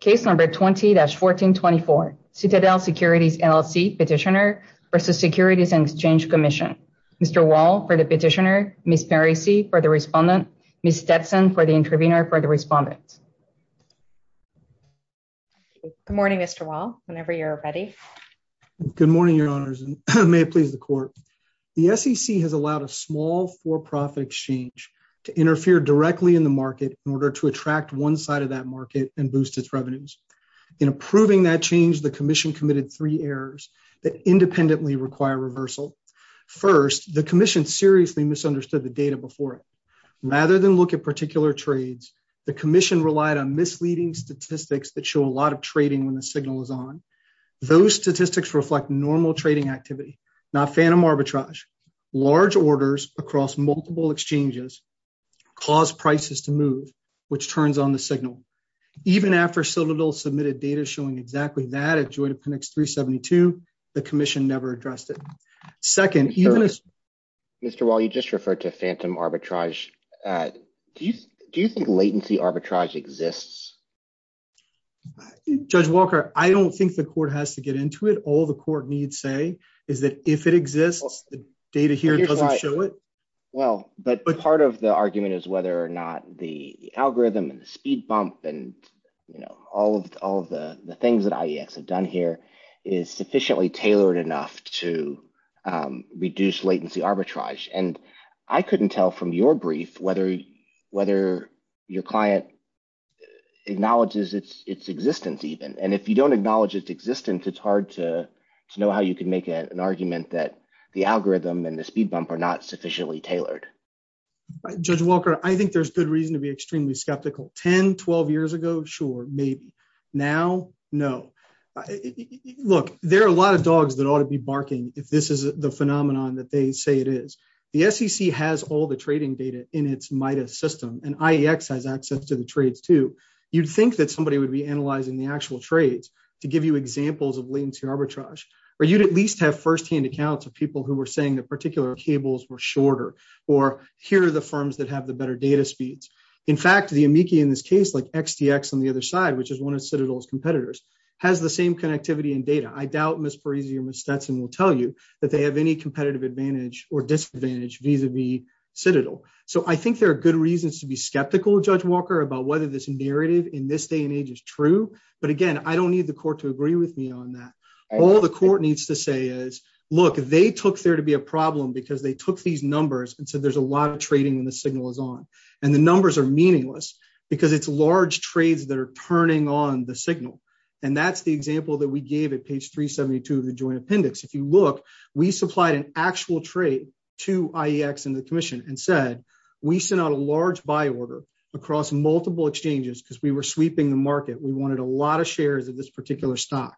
Case number 20-1424, Citadel Securities LLC petitioner versus Securities and Exchange Commission. Mr. Wall for the petitioner, Ms. Parisi for the respondent, Ms. Stetson for the intervener for the respondent. Good morning, Mr. Wall, whenever you're ready. Good morning, your honors, and may it please the court. The SEC has allowed a small for-profit exchange to interfere directly in the market in order to attract one side of that market and boost its revenues. In approving that change, the commission committed three errors that independently require reversal. First, the commission seriously misunderstood the data before it. Rather than look at particular trades, the commission relied on misleading statistics that show a lot of trading when the signal is on. Those statistics reflect normal trading activity, not phantom arbitrage. Large orders across multiple exchanges cause prices to move, which turns on the signal. Even after Citadel submitted data showing exactly that at Joint Appendix 372, the commission never addressed it. Second, even as... Mr. Wall, you just referred to phantom arbitrage. Do you think latency arbitrage exists? Judge Walker, I don't think the court has to get into it. All the court needs to say is that if it exists, the data here doesn't show it. Well, but part of the argument is whether or not the algorithm and the speed bump and all of the things that IEX have done here is sufficiently tailored enough to reduce latency arbitrage. And I couldn't tell from your brief whether your client acknowledges its existence even. And if you don't acknowledge its existence, it's hard to know how you can make an argument that the algorithm and the speed bump are not sufficiently tailored. Judge Walker, I think there's good reason to be extremely skeptical. 10, 12 years ago, sure, maybe. Now, no. Look, there are a lot of dogs that ought to be barking if this is the phenomenon that they say it is. The SEC has all the trading data in its MIDAS system, and IEX has access to the trades too. You'd think that somebody would be analyzing the actual trades to give you at least have firsthand accounts of people who were saying that particular cables were shorter, or here are the firms that have the better data speeds. In fact, the amici in this case, like XTX on the other side, which is one of Citadel's competitors, has the same connectivity and data. I doubt Ms. Parisi or Ms. Stetson will tell you that they have any competitive advantage or disadvantage vis-a-vis Citadel. So I think there are good reasons to be skeptical, Judge Walker, about whether this narrative in this day and age is true. But again, I don't need the court to agree with me on that. All the court needs to say is, look, they took there to be a problem because they took these numbers and said there's a lot of trading when the signal is on. And the numbers are meaningless because it's large trades that are turning on the signal. And that's the example that we gave at page 372 of the joint appendix. If you look, we supplied an actual trade to IEX and the commission and said, we sent out a large buy order across multiple exchanges because we were sweeping the market. We wanted a lot of shares of this particular stock.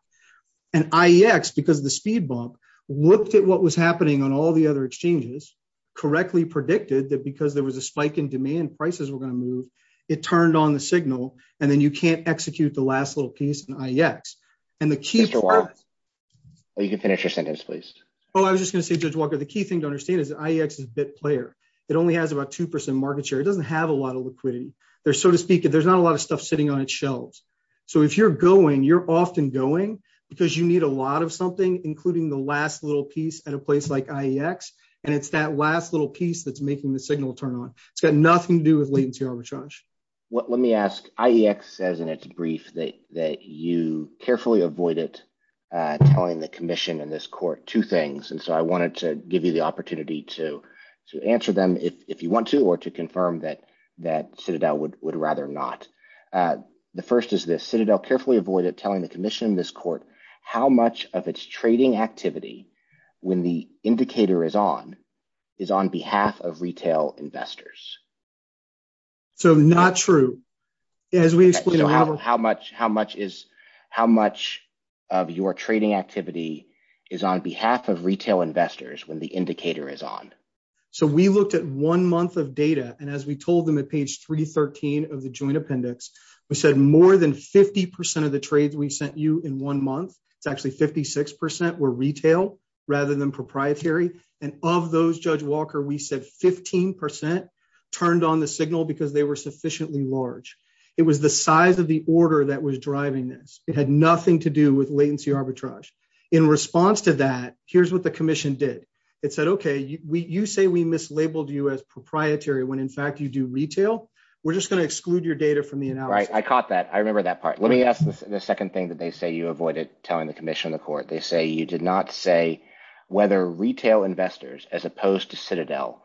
And IEX, because of the speed bump, looked at what was happening on all the other exchanges, correctly predicted that because there was a spike in demand, prices were going to move. It turned on the signal. And then you can't execute the last little piece in IEX. And the key- Judge Walker, you can finish your sentence, please. Oh, I was just going to say, Judge Walker, the key thing to understand is that IEX is a bit player. It only has about 2% market share. It doesn't have a lot of liquidity. There's, so to speak, there's not a lot of stuff sitting on its shelves. So if you're going, you're often going because you need a lot of something, including the last little piece at a place like IEX. And it's that last little piece that's making the signal turn on. It's got nothing to do with latency arbitrage. Let me ask, IEX says in its brief that you carefully avoided telling the commission and this court two things. And so I wanted to give you the opportunity to answer them if you want to, or to confirm that Citadel would rather not. The first is this. Citadel carefully avoided telling the commission and this court how much of its trading activity when the indicator is on, is on behalf of retail investors. So not true. As we explained- How much of your trading activity is on behalf of retail investors when the indicator is on. So we looked at one month of data and as we told them at page 313 of the joint appendix, we said more than 50% of the trades we sent you in one month, it's actually 56% were retail rather than proprietary. And of those Judge Walker, we said 15% turned on the signal because they were sufficiently large. It was the size of the order that was driving this. It had nothing to do with latency arbitrage. In response to that, here's what the commission did. It said, you say we mislabeled you as proprietary when in fact you do retail. We're just going to exclude your data from the analysis. I caught that. I remember that part. Let me ask the second thing that they say you avoided telling the commission and the court. They say you did not say whether retail investors as opposed to Citadel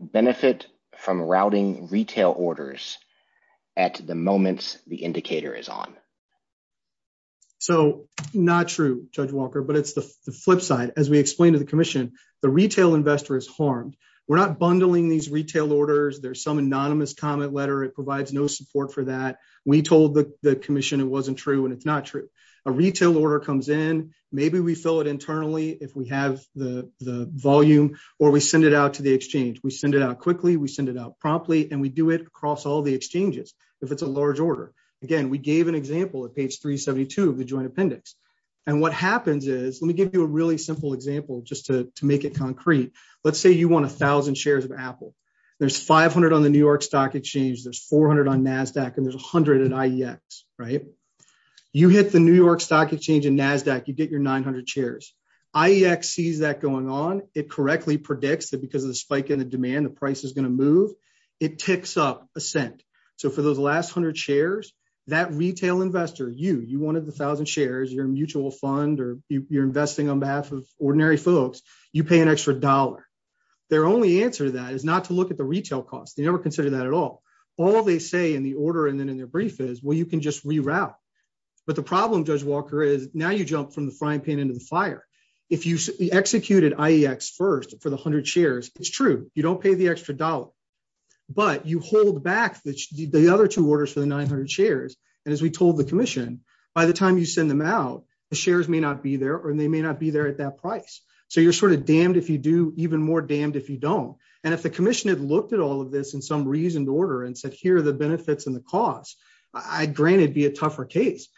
benefit from routing retail orders at the moments the indicator is on. So not true Judge Walker, but it's the flip side. As we explained to the commission, the retail investor is harmed. We're not bundling these retail orders. There's some anonymous comment letter. It provides no support for that. We told the commission it wasn't true and it's not true. A retail order comes in. Maybe we fill it internally if we have the volume or we send it out to the exchange. We send it out quickly. We send it out promptly and we do it across all the exchanges if it's a large order. Again, we gave an example at page 372 of the and what happens is, let me give you a really simple example just to make it concrete. Let's say you want a thousand shares of Apple. There's 500 on the New York Stock Exchange. There's 400 on NASDAQ and there's 100 at IEX. You hit the New York Stock Exchange and NASDAQ. You get your 900 shares. IEX sees that going on. It correctly predicts that because of the spike in the demand, the price is going to move. It ticks up a cent. So for those last 100 shares, that retail investor, you, you wanted the thousand shares, your mutual fund or you're investing on behalf of ordinary folks, you pay an extra dollar. Their only answer to that is not to look at the retail cost. They never consider that at all. All they say in the order and then in their brief is, well, you can just reroute. But the problem, Judge Walker, is now you jump from the frying pan into the fire. If you executed IEX first for the 100 shares, it's true. You don't pay the extra dollar. But you hold back the other two orders for the 900 shares. And as we told the commission, by the time you send them out, the shares may not be there or they may not be there at that price. So you're sort of damned if you do, even more damned if you don't. And if the commission had looked at all of this in some reasoned order and said, here are the benefits and the costs, I'd granted be a tougher case.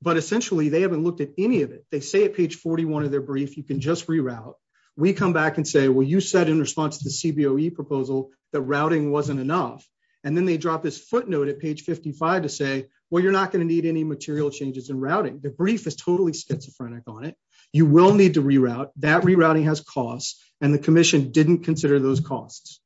But essentially they haven't looked at any of it. They say at page 41 of their brief, you can just reroute. We come back and say, well, you said in response to CBOE proposal that routing wasn't enough. And then they drop this footnote at page 55 to say, well, you're not going to need any material changes in routing. The brief is totally schizophrenic on it. You will need to reroute. That rerouting has costs. And the commission didn't consider those costs.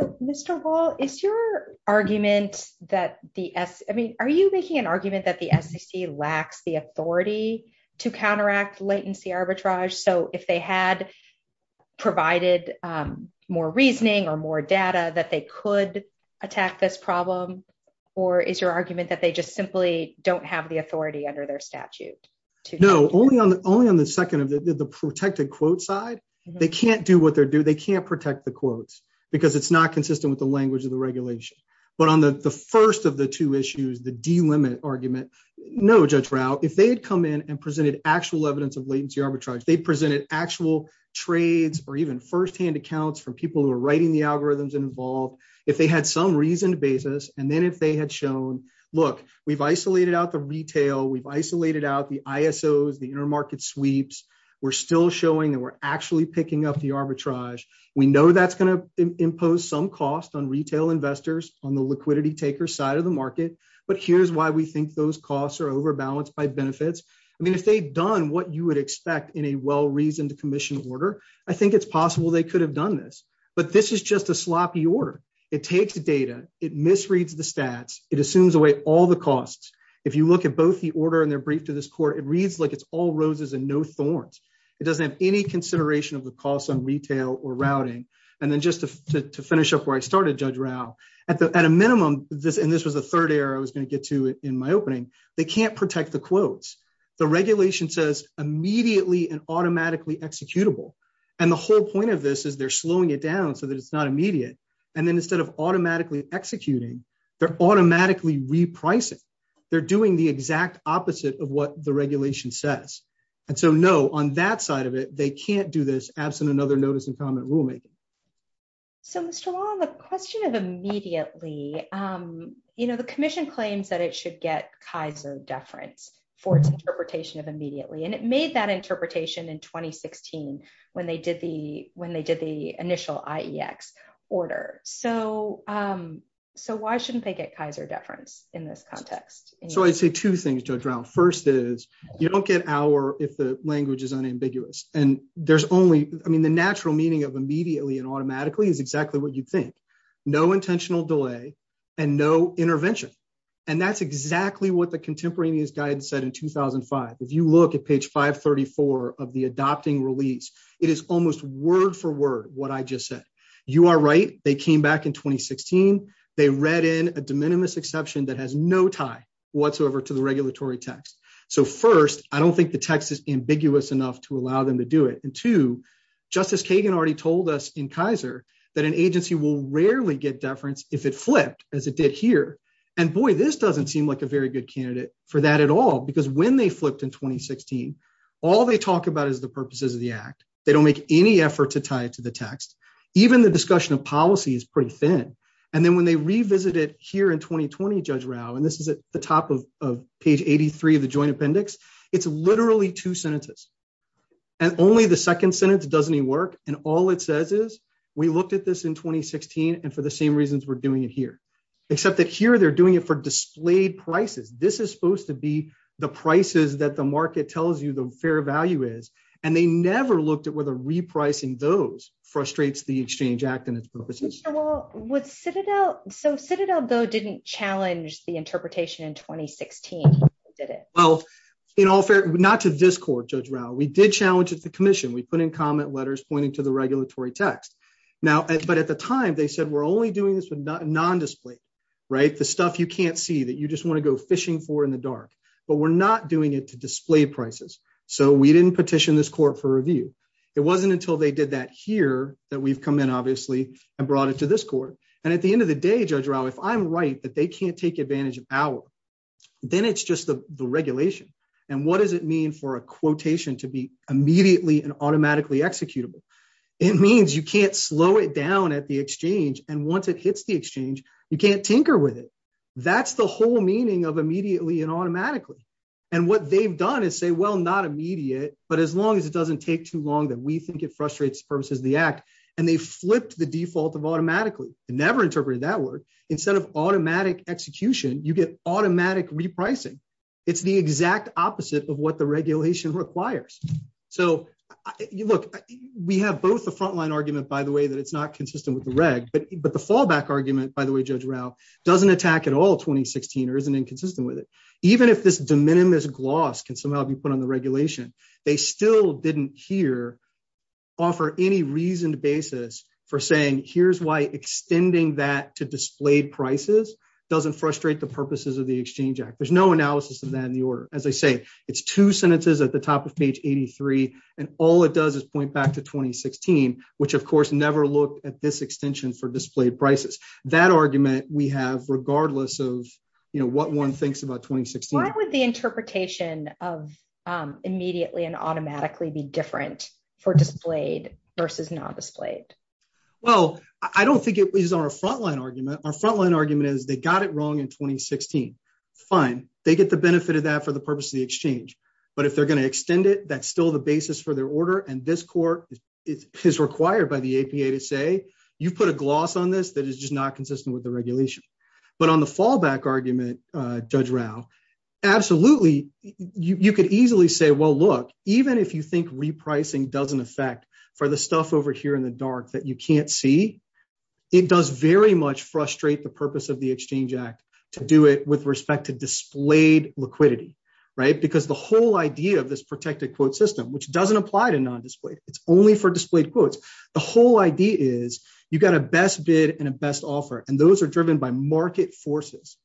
So, Mr. Hall, is your argument that the S, I mean, are you making an argument that the SEC lacks the authority to counteract latency arbitrage? So if they had provided more reasoning or more data that they could attack this problem, or is your argument that they just simply don't have the authority under their statute? No, only on the only on the second of the protected quote side, they can't do what they're due. They can't protect the quotes because it's not consistent with the language of the regulation. But on the first of the two issues, the D limit argument, no judge route, if they had come in and presented actual evidence of arbitrage, they presented actual trades or even firsthand accounts from people who are writing the algorithms involved, if they had some reason to basis, and then if they had shown, look, we've isolated out the retail, we've isolated out the ISOs, the intermarket sweeps, we're still showing that we're actually picking up the arbitrage. We know that's going to impose some cost on retail investors on the liquidity taker side of the market. But here's why we think those costs are overbalanced by benefits. I mean, if they've done what you would expect in a well reasoned commission order, I think it's possible they could have done this. But this is just a sloppy order. It takes data, it misreads the stats, it assumes away all the costs. If you look at both the order and their brief to this court, it reads like it's all roses and no thorns. It doesn't have any consideration of the costs on retail or routing. And then just to finish up where I started Judge Rao, at a minimum, and this was the third error I was going to get to in my opening, they can't protect the quotes. The regulation says immediately and automatically executable. And the whole point of this is they're slowing it down so that it's not immediate. And then instead of automatically executing, they're automatically repricing. They're doing the exact opposite of what the regulation says. And so no, on that side of it, they can't do this absent another notice and comment rulemaking. So Mr. Long, the question of immediately, you know, the commission claims that it should get Kaiser deference for its interpretation of immediately. And it made that interpretation in 2016, when they did the when they did the initial IEX order. So so why shouldn't they get Kaiser deference in this context? So I'd say two things, Judge Rao. First is you don't get our if the language is unambiguous. And there's only I mean, the natural meaning of immediately and automatically is exactly what you think. No intentional delay, and no intervention. And that's exactly what the contemporaneous guidance said in 2005. If you look at page 534 of the adopting release, it is almost word for word what I just said, you are right, they came back in 2016. They read in a de minimis exception that has no tie whatsoever to the regulatory text. So first, I don't think the text is ambiguous enough to allow them to do it. And to Justice Kagan already told us in Kaiser, that an agency will rarely get deference if it flipped as it did here. And boy, this doesn't seem like a very good candidate for that at all. Because when they flipped in 2016, all they talk about is the purposes of the act. They don't make any effort to tie it to the text. Even the discussion of policy is pretty thin. And then when they revisit it here in 2020, Judge Rao, and this is at the top of page 83 of the joint appendix, it's literally two sentences. And only the second sentence doesn't work. And all it says is, we looked at this in 2016. And for the same reasons, we're doing it here. Except that here, they're doing it for displayed prices, this is supposed to be the prices that the market tells you the fair value is. And they never looked at whether repricing those frustrates the exchange act and its purposes. With Citadel, so Citadel, though, didn't challenge the interpretation in 2016. Well, in all fairness, not to this court, Judge Rao, we did challenge the commission, we put in comment letters pointing to the regulatory text. Now, but at the time, they said we're only doing this with non-display, right? The stuff you can't see that you just want to go fishing for in the dark, but we're not doing it to display prices. So we didn't petition this court for review. It wasn't until they did that here that we've come in, obviously, and brought it to this court. And at the end of the day, Judge Rao, if I'm right that they can't take advantage of power, then it's just the regulation. And what does it mean for a quotation to be immediately and automatically executable? It means you can't slow it down at the exchange. And once it hits the exchange, you can't tinker with it. That's the whole meaning of immediately and automatically. And what they've done is say, well, not immediate, but as long as it doesn't take too long that we think it frustrates the purposes of the act. And they flipped the default of automatically. They never interpreted that word. Instead of automatic execution, you get automatic repricing. It's the exact opposite of what the regulation requires. So look, we have both the frontline argument, by the way, that it's not consistent with the reg. But the fallback argument, by the way, Judge Rao, doesn't attack at all 2016 or isn't inconsistent with it. Even if this de minimis gloss can somehow be put on the regulation, they still didn't offer any reasoned basis for saying, here's why extending that to displayed prices doesn't frustrate the purposes of the Exchange Act. There's no analysis of that in the order. As I say, it's two sentences at the top of page 83. And all it does is point back to 2016, which, of course, never looked at this extension for displayed prices. That argument we have regardless of what one thinks about 2016. Why would the interpretation of immediately and automatically be different for displayed versus not displayed? Well, I don't think it is our frontline argument. Our frontline argument is they got it wrong in 2016. Fine. They get the benefit of that for the purpose of the exchange. But if they're going to extend it, that's still the basis for their order. And this court is required by the APA to say, you put a gloss on this that is just not consistent with the regulation. But on the fallback argument, Judge Rao, absolutely, you could easily say, well, look, even if you think repricing doesn't affect for the stuff over here in the dark that you can't see, it does very much frustrate the purpose of the Exchange Act to do it with respect to displayed liquidity, right? Because the whole idea of this protected quote system, which doesn't apply to non-displayed, it's only for displayed quotes, the whole idea is you've got a best bid and a best offer. And those are driven by market forces.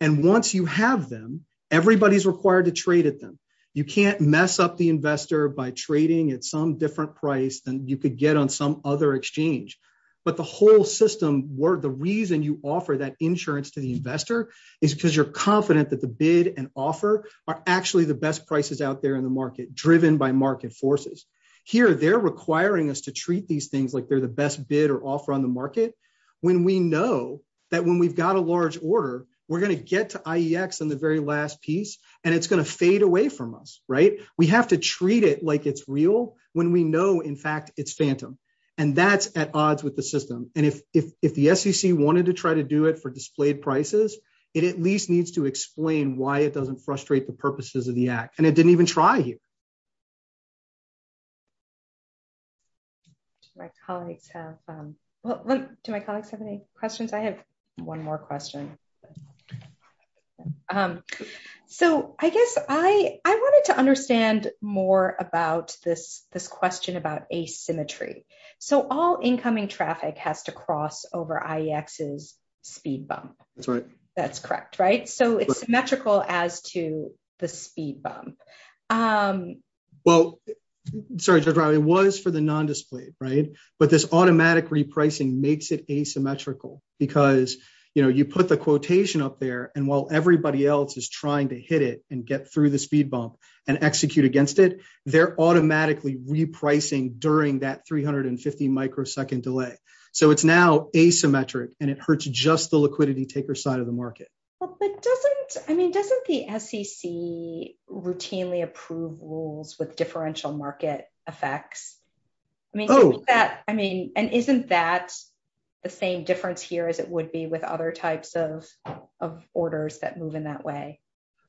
And once you have them, everybody is required to trade at them. You can't mess up the investor by trading at some different price than you could get on some other exchange. But the whole system, where the reason you offer that insurance to the investor is because you're confident that the bid and offer are actually the best prices out there in the market, driven by market forces. Here, they're requiring us to treat these things like they're the best bid or offer on the market. When we know that when we've got a large order, we're going to get to IEX on the very last piece, and it's going to fade away from us, right? We have to treat it like it's real when we know, in fact, it's phantom. And that's at odds with the system. And if the SEC wanted to try to do it for displayed prices, it at least needs to explain why it doesn't frustrate the purposes of the Act. It didn't even try here. Do my colleagues have any questions? I have one more question. So I guess I wanted to understand more about this question about asymmetry. So all incoming traffic has to cross over IEX's speed bump. That's correct, right? So it's a speed bump. Well, sorry, Judge Riley, it was for the nondisplayed, right? But this automatic repricing makes it asymmetrical because you put the quotation up there, and while everybody else is trying to hit it and get through the speed bump and execute against it, they're automatically repricing during that 350-microsecond delay. So it's now asymmetric, and it hurts just the rules with differential market effects. And isn't that the same difference here as it would be with other types of orders that move in that way?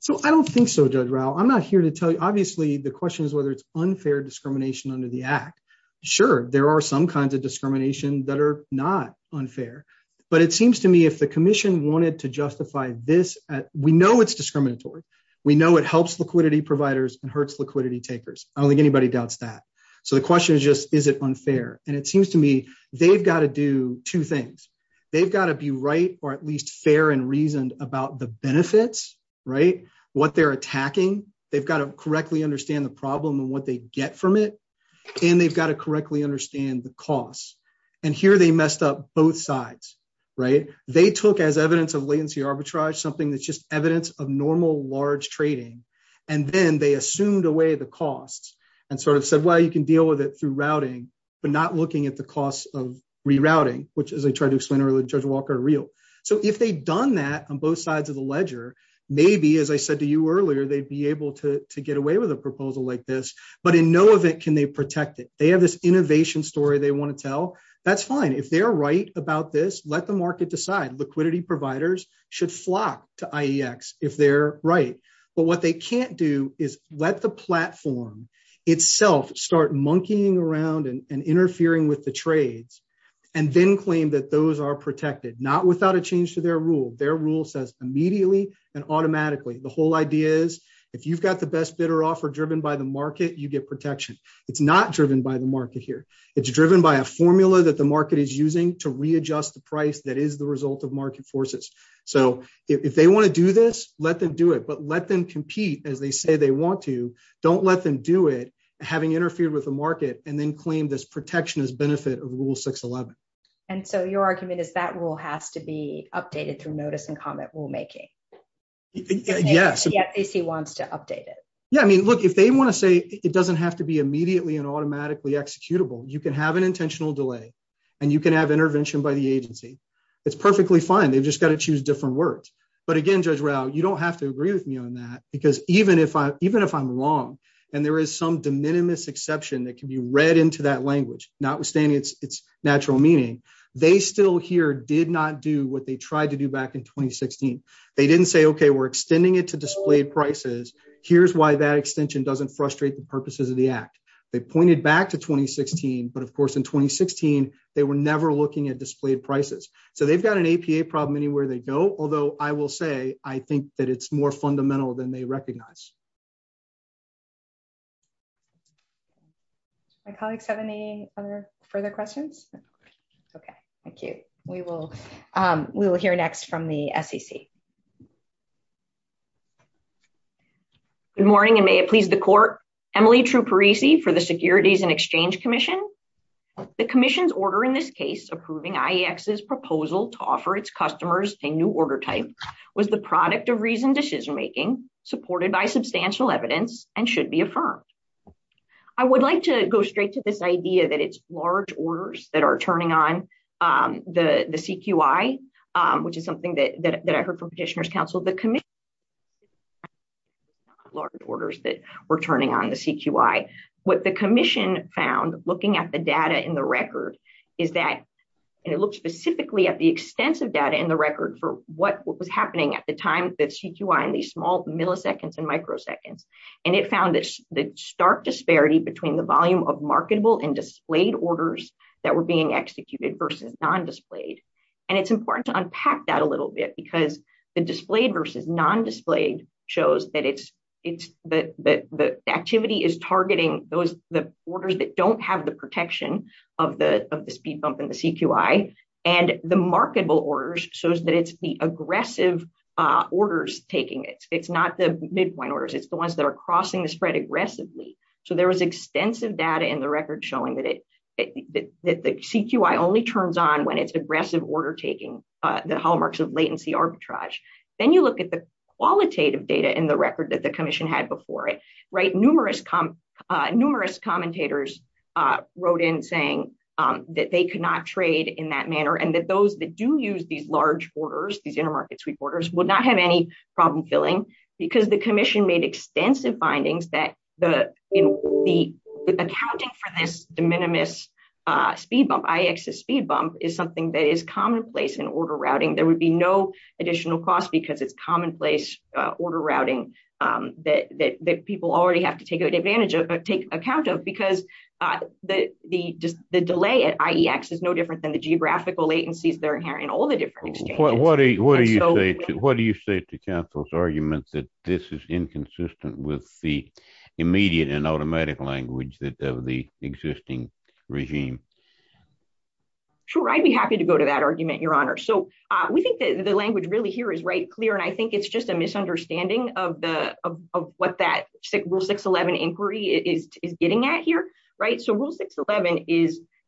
So I don't think so, Judge Ryle. I'm not here to tell you. Obviously, the question is whether it's unfair discrimination under the Act. Sure, there are some kinds of discrimination that are not unfair, but it seems to me if the commission wanted to justify this, we know it's discriminatory. We know it helps liquidity providers and hurts liquidity takers. I don't think anybody doubts that. So the question is just, is it unfair? And it seems to me they've got to do two things. They've got to be right or at least fair and reasoned about the benefits, right, what they're attacking. They've got to correctly understand the problem and what they get from it, and they've got to correctly understand the costs. And here they messed up both sides, right? They took as evidence of latency arbitrage something that's just evidence of normal large trading, and then they assumed away the costs and sort of said, well, you can deal with it through routing, but not looking at the costs of rerouting, which, as I tried to explain earlier, Judge Walker, are real. So if they'd done that on both sides of the ledger, maybe, as I said to you earlier, they'd be able to get away with a proposal like this, but in no event can they protect it. They have this innovation story they want to tell. That's fine. If they're right about this, let the market decide. Liquidity providers should flock to IEX if they're right, but what they can't do is let the platform itself start monkeying around and interfering with the trades and then claim that those are protected, not without a change to their rule. Their rule says immediately and automatically. The whole idea is if you've got the best bidder offer driven by the market, you get protection. It's not driven by the market here. It's driven by a formula that the market is using to readjust the price that is result of market forces. So if they want to do this, let them do it, but let them compete as they say they want to. Don't let them do it, having interfered with the market, and then claim this protection as benefit of Rule 611. And so your argument is that rule has to be updated through notice and comment rulemaking? Yes. If he wants to update it. Yeah. I mean, look, if they want to say it doesn't have to be immediately and automatically executable, you can have an fine. They've just got to choose different words. But again, Judge Rao, you don't have to agree with me on that, because even if I'm wrong and there is some de minimis exception that can be read into that language, notwithstanding its natural meaning, they still here did not do what they tried to do back in 2016. They didn't say, OK, we're extending it to displayed prices. Here's why that extension doesn't frustrate the purposes of the act. They pointed back to 2016. But of course, in 2016, they were never looking at displayed prices. So they've got an APA problem anywhere they go. Although I will say, I think that it's more fundamental than they recognize. My colleagues have any other further questions? OK, thank you. We will. We will hear next from the SEC. Good morning, and may it please the court. Emily Truparisi for the Securities and Exchange Commission. The commission's order in this case, approving IEX's proposal to offer its customers a new order type, was the product of reasoned decision making, supported by substantial evidence, and should be affirmed. I would like to go straight to this idea that it's large orders that are turning on the CQI, which is something that I heard from Petitioner's Council. The commission found, looking at the data in the record, is that, and it looked specifically at the extensive data in the record for what was happening at the time, the CQI in these small milliseconds and microseconds. And it found the stark disparity between the volume of marketable and displayed orders that were being executed versus non-displayed. And it's important to unpack that a little bit, because the displayed versus non-displayed shows that the activity is the orders that don't have the protection of the speed bump in the CQI. And the marketable orders shows that it's the aggressive orders taking it. It's not the midpoint orders. It's the ones that are crossing the spread aggressively. So there was extensive data in the record showing that the CQI only turns on when it's aggressive order taking, the hallmarks of latency arbitrage. Then you look at the qualitative data in the record that the commission had before it, numerous commentators wrote in saying that they could not trade in that manner. And that those that do use these large orders, these intermarket sweep orders, would not have any problem filling because the commission made extensive findings that accounting for this de minimis speed bump, IX's speed bump, is something that is commonplace in order routing. There would be no additional cost because it's commonplace order routing that people already have to take account of, because the delay at IX is no different than the geographical latencies that are inherent in all the different exchanges. What do you say to counsel's arguments that this is inconsistent with the immediate and automatic language of the existing regime? Sure, I'd be happy to go to argument, Your Honor. So we think that the language really here is right clear. And I think it's just a misunderstanding of what that rule 611 inquiry is getting at here. So rule 611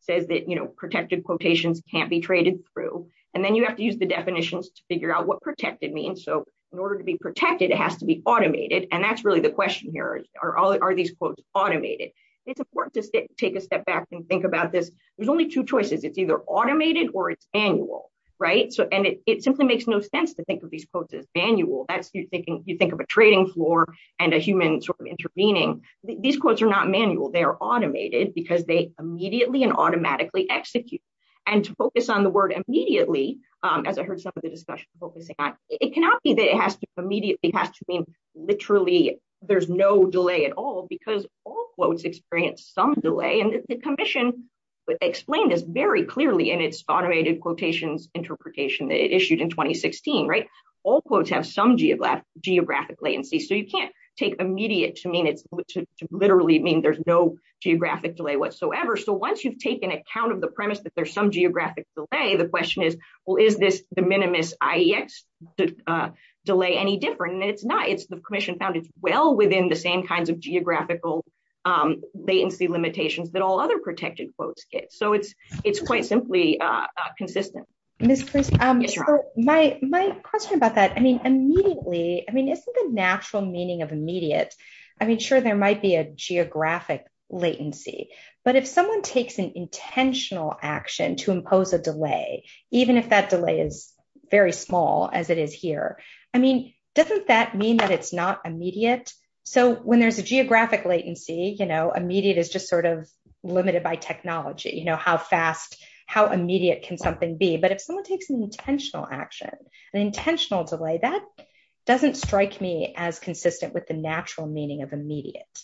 says that protected quotations can't be traded through. And then you have to use the definitions to figure out what protected means. So in order to be protected, it has to be automated. And that's really the question here. Are these quotes automated? It's important to take a step back and think about this. There's only two choices. It's either automated or it's manual. And it simply makes no sense to think of these quotes as manual. You think of a trading floor and a human sort of intervening. These quotes are not manual. They are automated because they immediately and automatically execute. And to focus on the word immediately, as I heard some of the discussion focusing on, it cannot be that it has to immediately. It has to mean literally there's no delay at all because all quotes experience some delay. And the commission explained this very clearly in its automated quotations interpretation that it issued in 2016. All quotes have some geographic latency. So you can't take immediate to literally mean there's no geographic delay whatsoever. So once you've taken account of the premise that there's some geographic delay, the question is, well, is this the minimus IEX delay any different? And it's not. The commission found it's well within the same kinds of geographical latency limitations that all other protected quotes get. So it's quite simply consistent. Ms. Priest, my question about that, I mean, immediately, I mean, isn't the natural meaning of immediate? I mean, sure, there might be a geographic latency, but if someone takes an intentional action to impose a delay, even if that delay is very small as it is here, I mean, doesn't that mean that it's not immediate? So when there's a geographic latency, you know, immediate is just sort of limited by technology, you know, how fast, how immediate can something be? But if someone takes an intentional action, an intentional delay, that doesn't strike me as consistent with the natural meaning of immediate.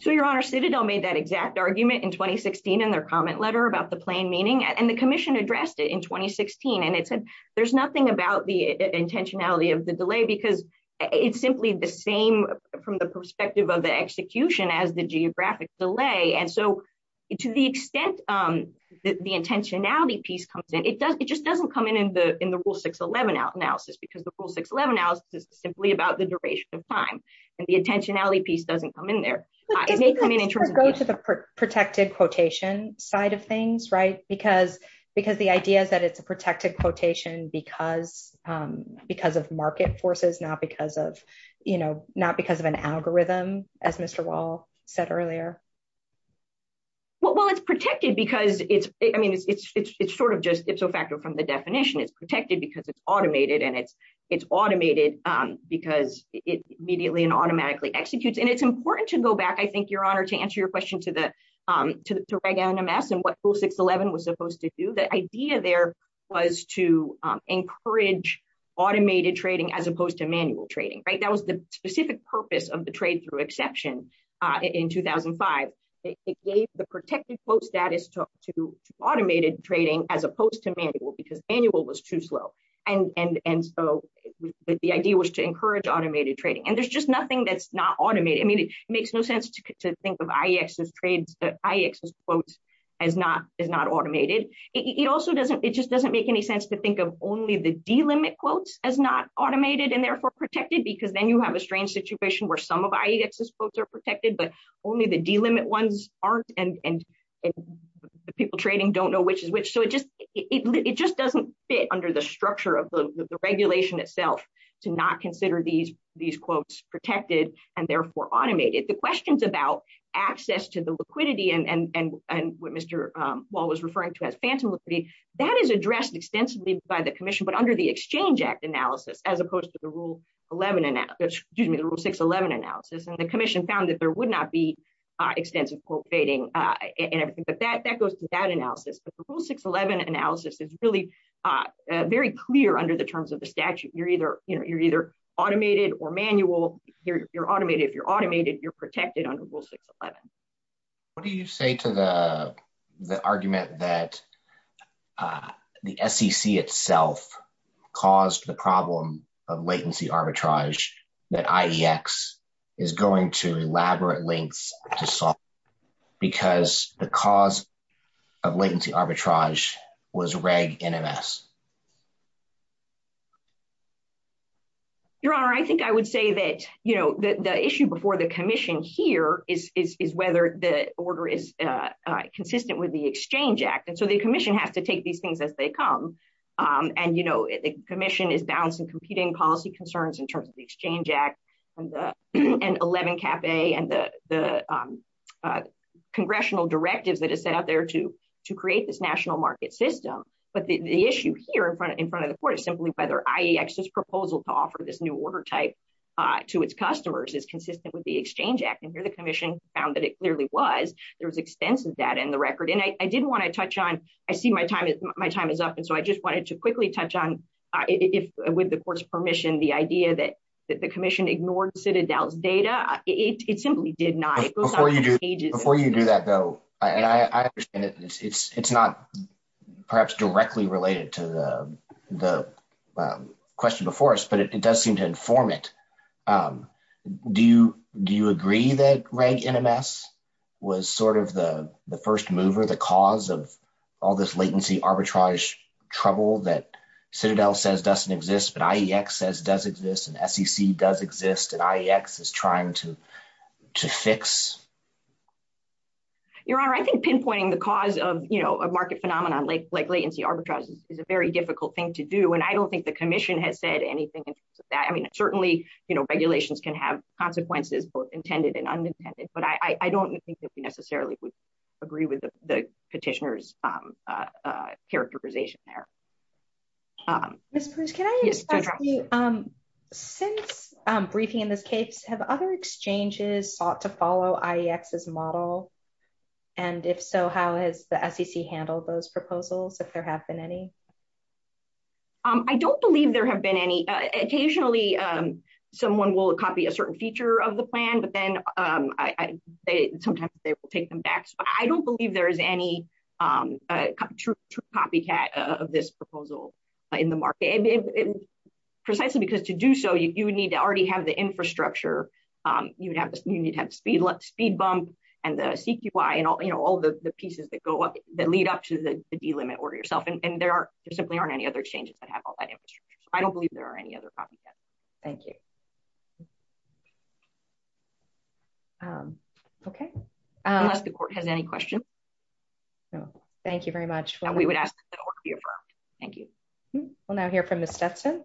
So your honor, Citadel made that exact argument in 2016 in their comment letter about the plain meaning and the commission addressed it in 2016. And it said, there's nothing about the intentionality of the delay, because it's simply the same from the perspective of the execution as the geographic delay. And so to the extent that the intentionality piece comes in, it does, it just doesn't come in in the, in the rule 611 analysis, because the rule 611 analysis is simply about the duration of time. And the intentionality piece doesn't come in there. It may come in in terms of... Go to the protected quotation side of things, right? Because, because the idea is that it's a not because of, you know, not because of an algorithm, as Mr. Wall said earlier. Well, it's protected, because it's, I mean, it's sort of just ipso facto from the definition, it's protected, because it's automated. And it's, it's automated, because it immediately and automatically executes. And it's important to go back, I think, your honor, to answer your question to the, to Reagan and Amass and what rule 611 was supposed to do. The idea there was to as opposed to manual trading, right? That was the specific purpose of the trade through exception in 2005. It gave the protected quote status to automated trading, as opposed to manual, because manual was too slow. And, and, and so the idea was to encourage automated trading. And there's just nothing that's not automated. I mean, it makes no sense to think of IEX's trades, the IEX's quotes as not, as not automated. It also doesn't, it just doesn't make any sense to think of only the D limit quotes as not automated, and therefore protected, because then you have a strange situation where some of IEX's quotes are protected, but only the D limit ones aren't and people trading don't know which is which. So it just, it just doesn't fit under the structure of the regulation itself, to not consider these, these quotes protected, and therefore automated. The questions about access to the liquidity and what Mr. Wall was referring to as phantom liquidity, that is addressed extensively by the commission, but under the Exchange Act analysis, as opposed to the Rule 11, excuse me, the Rule 611 analysis, and the commission found that there would not be extensive quote trading and everything, but that, that goes to that analysis. But the Rule 611 analysis is really very clear under the terms of the statute. You're either, you know, you're either automated or manual. You're automated. If you're automated, you're protected under Rule 611. What do you say to the, the argument that the SEC itself caused the problem of latency arbitrage that IEX is going to elaborate lengths to solve, because the cause of latency arbitrage was reg NMS? Your Honor, I think I would say that, you know, the issue before the commission here is, is, is whether the order is consistent with the Exchange Act. And so the commission has to take these things as they come. And, you know, the commission is balancing competing policy concerns in terms of the Exchange Act, and the, and 11 cap a and the, the congressional directives that is set out there to, to create this national market system. But the issue here in front of, in front of the court is simply whether IEX's proposal to offer this new order type to its customers is consistent with the Exchange Act. And here the commission found that it clearly was, there was extensive data in the record. And I didn't want to touch on, I see my time is, my time is up. And so I just wanted to quickly touch on if, with the court's permission, the idea that the commission ignored Citadel's data. It simply did not. Before you do that, though, and I understand it, it's, it's not perhaps directly related to the, the question before us, but it does seem to inform it. Do you, do you agree that REG NMS was sort of the, the first mover, the cause of all this latency arbitrage trouble that Citadel says doesn't exist, but IEX says does exist and SEC does exist and IEX is trying to, to fix? Your Honor, I think pinpointing the cause of, you know, a market phenomenon like, like latency arbitrage is a very difficult thing to do. And I don't think the commission has said anything in terms of that. I mean, certainly, you know, regulations can have consequences, both intended and unintended, but I, I don't think that we necessarily would the petitioner's characterization there. Ms. Bruce, can I ask you, since briefing in this case, have other exchanges sought to follow IEX's model? And if so, how has the SEC handled those proposals, if there have been any? I don't believe there have been any. Occasionally, someone will copy a certain feature of the plan, but then I, they, sometimes they will take them back. So I don't believe there is any copycat of this proposal in the market, precisely because to do so, you would need to already have the infrastructure. You would have, you need to have speed, speed bump and the CQI and all, you know, all the pieces that go up, that lead up to the delimit order yourself. And there are, there simply aren't any other exchanges that have all that infrastructure. I don't believe there are any other copycats. Thank you. Okay. Unless the court has any questions. No, thank you very much. And we would ask that the order be affirmed. Thank you. We'll now hear from Ms. Stetson.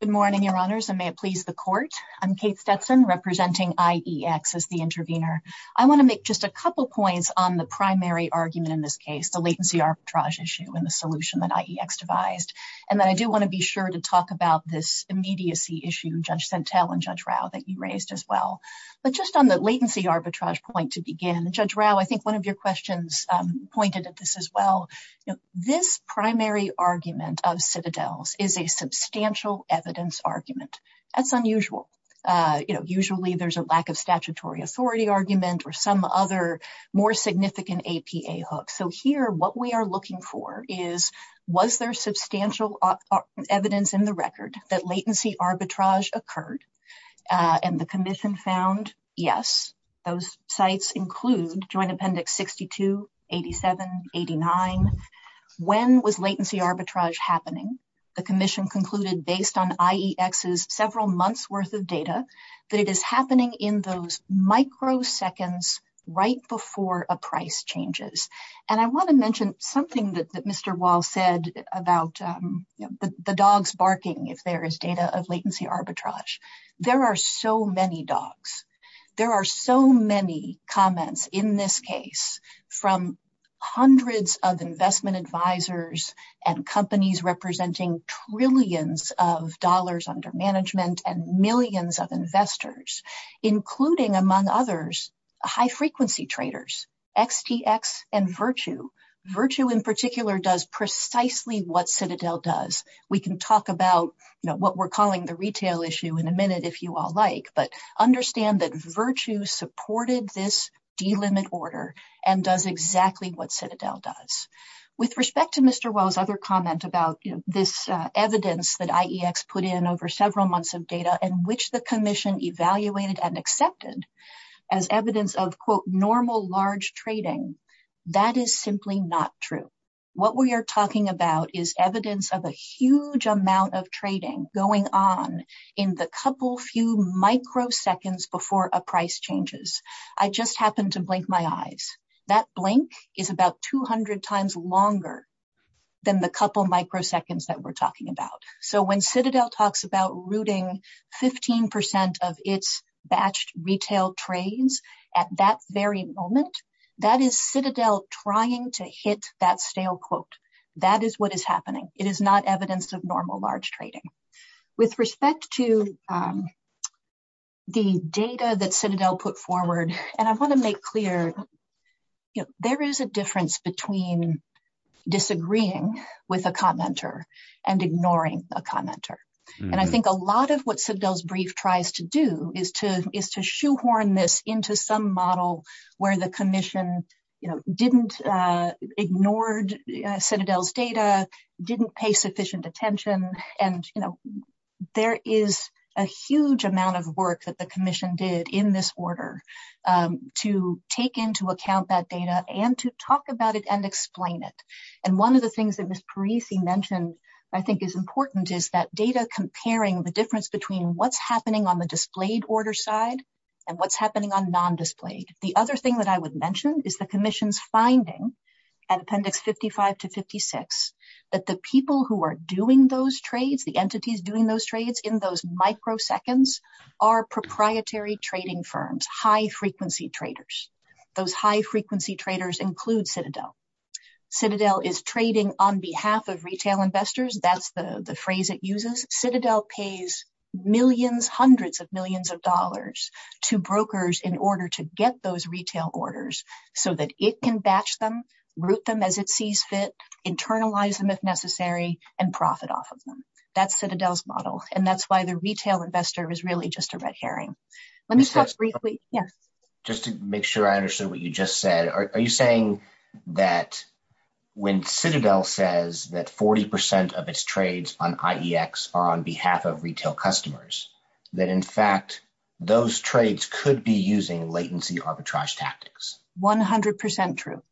Good morning, Your Honors, and may it please the court. I'm Kate Stetson, representing IEX as the intervener. I want to make just a couple points on the primary argument in this case, the latency arbitrage issue and the solution that IEX devised. And then I do want to be sure to talk about this immediacy issue, Judge Sentelle and Judge Rao, that you raised as well. But just on the latency arbitrage point to begin, Judge Rao, I think one of your questions pointed at this as well. You know, this primary argument of citadels is a substantial evidence argument. That's unusual. You know, usually there's a lack of statutory authority argument or some other more significant APA hook. So here, what we are looking for is, was there substantial evidence in the record that latency arbitrage occurred? And the commission found yes. Those sites include Joint Appendix 62, 87, 89. When was latency arbitrage happening? The commission concluded based on IEX's several months' worth of data that it is happening in those microseconds right before a price changes. And I want to mention something that Mr. Wall said about the dogs barking if there is data of latency arbitrage. There are so many dogs. There are so many comments in this case from hundreds of investment advisors and companies representing trillions of dollars under management and millions of investors, including among others, high frequency traders, XTX, and Virtue. Virtue in particular does precisely what Citadel does. We can talk about what we're calling the retail issue in a minute if you all like, but understand that Virtue supported this delimit order and does exactly what Citadel does. With respect to Mr. Wall's other comment about this evidence that IEX put in over several months of data and which the commission evaluated and accepted as evidence of, quote, normal large trading, that is simply not true. What we are talking about is evidence of a huge amount of trading going on in the couple few microseconds before a price changes. I just happened to blink my eyes. That blink is about 200 times longer than the couple microseconds that we're talking about. So when Citadel talks about rooting 15% of its batched retail trades at that very moment, that is Citadel trying to hit that stale quote. That is what is happening. It is not evidence of normal large trading. With respect to the data that Citadel put forward, and I want to make clear there is a difference between disagreeing with a commenter and ignoring a commenter. I think a lot of what Citadel's brief tries to do is to shoehorn this into some model where the commission didn't ignore Citadel's data, didn't pay sufficient attention. There is a huge amount of work that the commission did in this order to take into account that data and to talk about it and explain it. One of the things that Ms. Parisi mentioned I think is important is that data comparing the difference between what's happening on the displayed order side and what's happening on non-displayed. The other thing that I would the entities doing those trades in those microseconds are proprietary trading firms, high-frequency traders. Those high-frequency traders include Citadel. Citadel is trading on behalf of retail investors. That's the phrase it uses. Citadel pays millions, hundreds of millions of dollars to brokers in order to get those retail orders so that it can batch them, route them as it sees fit, internalize them if necessary, and profit off of them. That's Citadel's model. That's why the retail investor is really just a red herring. Let me talk briefly. Just to make sure I understood what you just said, are you saying that when Citadel says that 40% of its trades on IEX are on behalf of retail customers, that in fact those trades could be using latency arbitrage tactics? 100% true.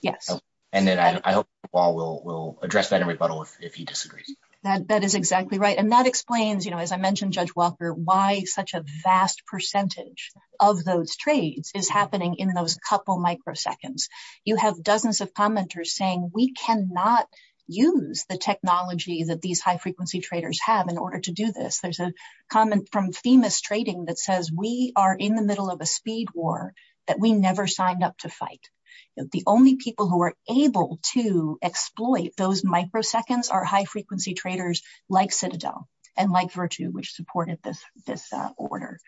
Yes. I hope Paul will address that in rebuttal if he disagrees. That is exactly right. That explains, as I mentioned, Judge Walker, why such a vast percentage of those trades is happening in those couple microseconds. You have dozens of commenters saying, we cannot use the technology that these high-frequency traders have in order to do this. There's a comment from Themis Trading that says, we are in the middle of a speed war that we never signed up to fight. The only people who are able to exploit those microseconds are high-frequency traders like Citadel and like Virtu, which supported this order.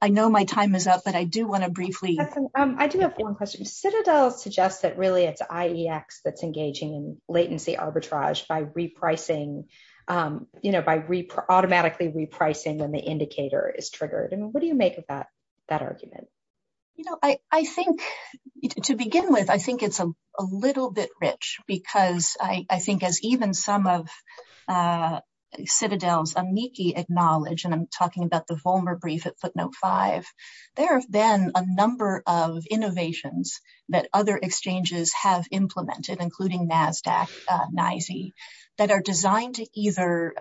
I know my time is up, but I do want to briefly- I do have one question. Citadel suggests that really it's IEX that's engaging in latency arbitrage by automatically repricing when the indicator is triggered. What do you make of that argument? To begin with, I think it's a little bit rich because I think as even some of Citadel's amici acknowledge, and I'm talking about the Vollmer brief at Footnote 5, there have been a number of innovations that other exchanges have implemented, including NASDAQ, NYSE, that are designed to either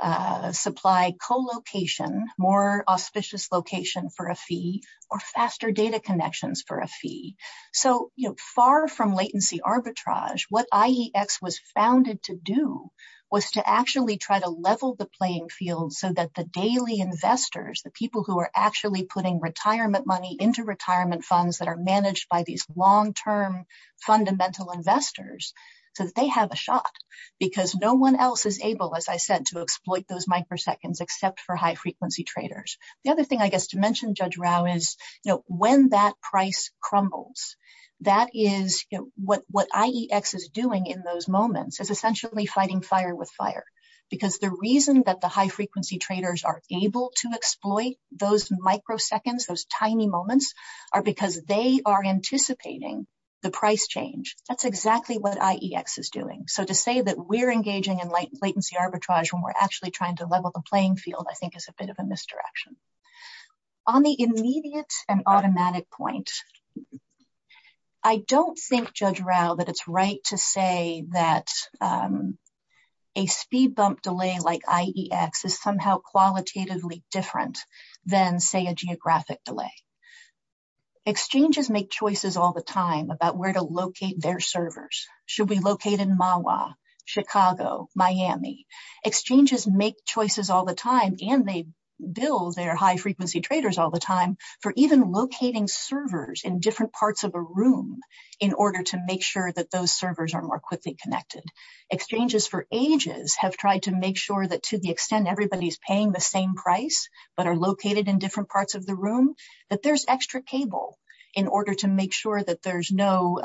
supply co-location, more auspicious location for a fee, or faster data connections for a fee. Far from latency arbitrage, what IEX was founded to do was to actually try to level the playing field so that the daily investors, the people who are actually putting retirement money into retirement funds that are managed by these long-term fundamental investors, so that they have a shot. Because no one else is able, as I said, to exploit those microseconds except for high-frequency traders. The other thing I guess to mention, Judge Rao, is when that price crumbles, that is what IEX is doing in those moments is essentially fighting fire with fire. Because the reason that the high-frequency traders are able to exploit those microseconds, those tiny moments, are because they are anticipating the price change. That's exactly what IEX is doing. So to say that we're engaging in latency arbitrage when we're actually trying to level the playing field, I think is a bit of a misdirection. On the immediate and automatic point, I don't think, Judge Rao, that it's right to say that a speed bump delay like IEX is somehow qualitatively different than, say, a geographic delay. Exchanges make choices all the time about where to locate their servers. Should we locate in Mahwah, Chicago, Miami? Exchanges make choices all the time, and they bill their high-frequency traders all the time for even locating servers in different parts of a room in order to make sure that those servers are more quickly connected. Exchanges for ages have tried to make sure that to the extent everybody's paying the same price, but are located in different parts of the room, that there's extra cable in order to make sure that there's no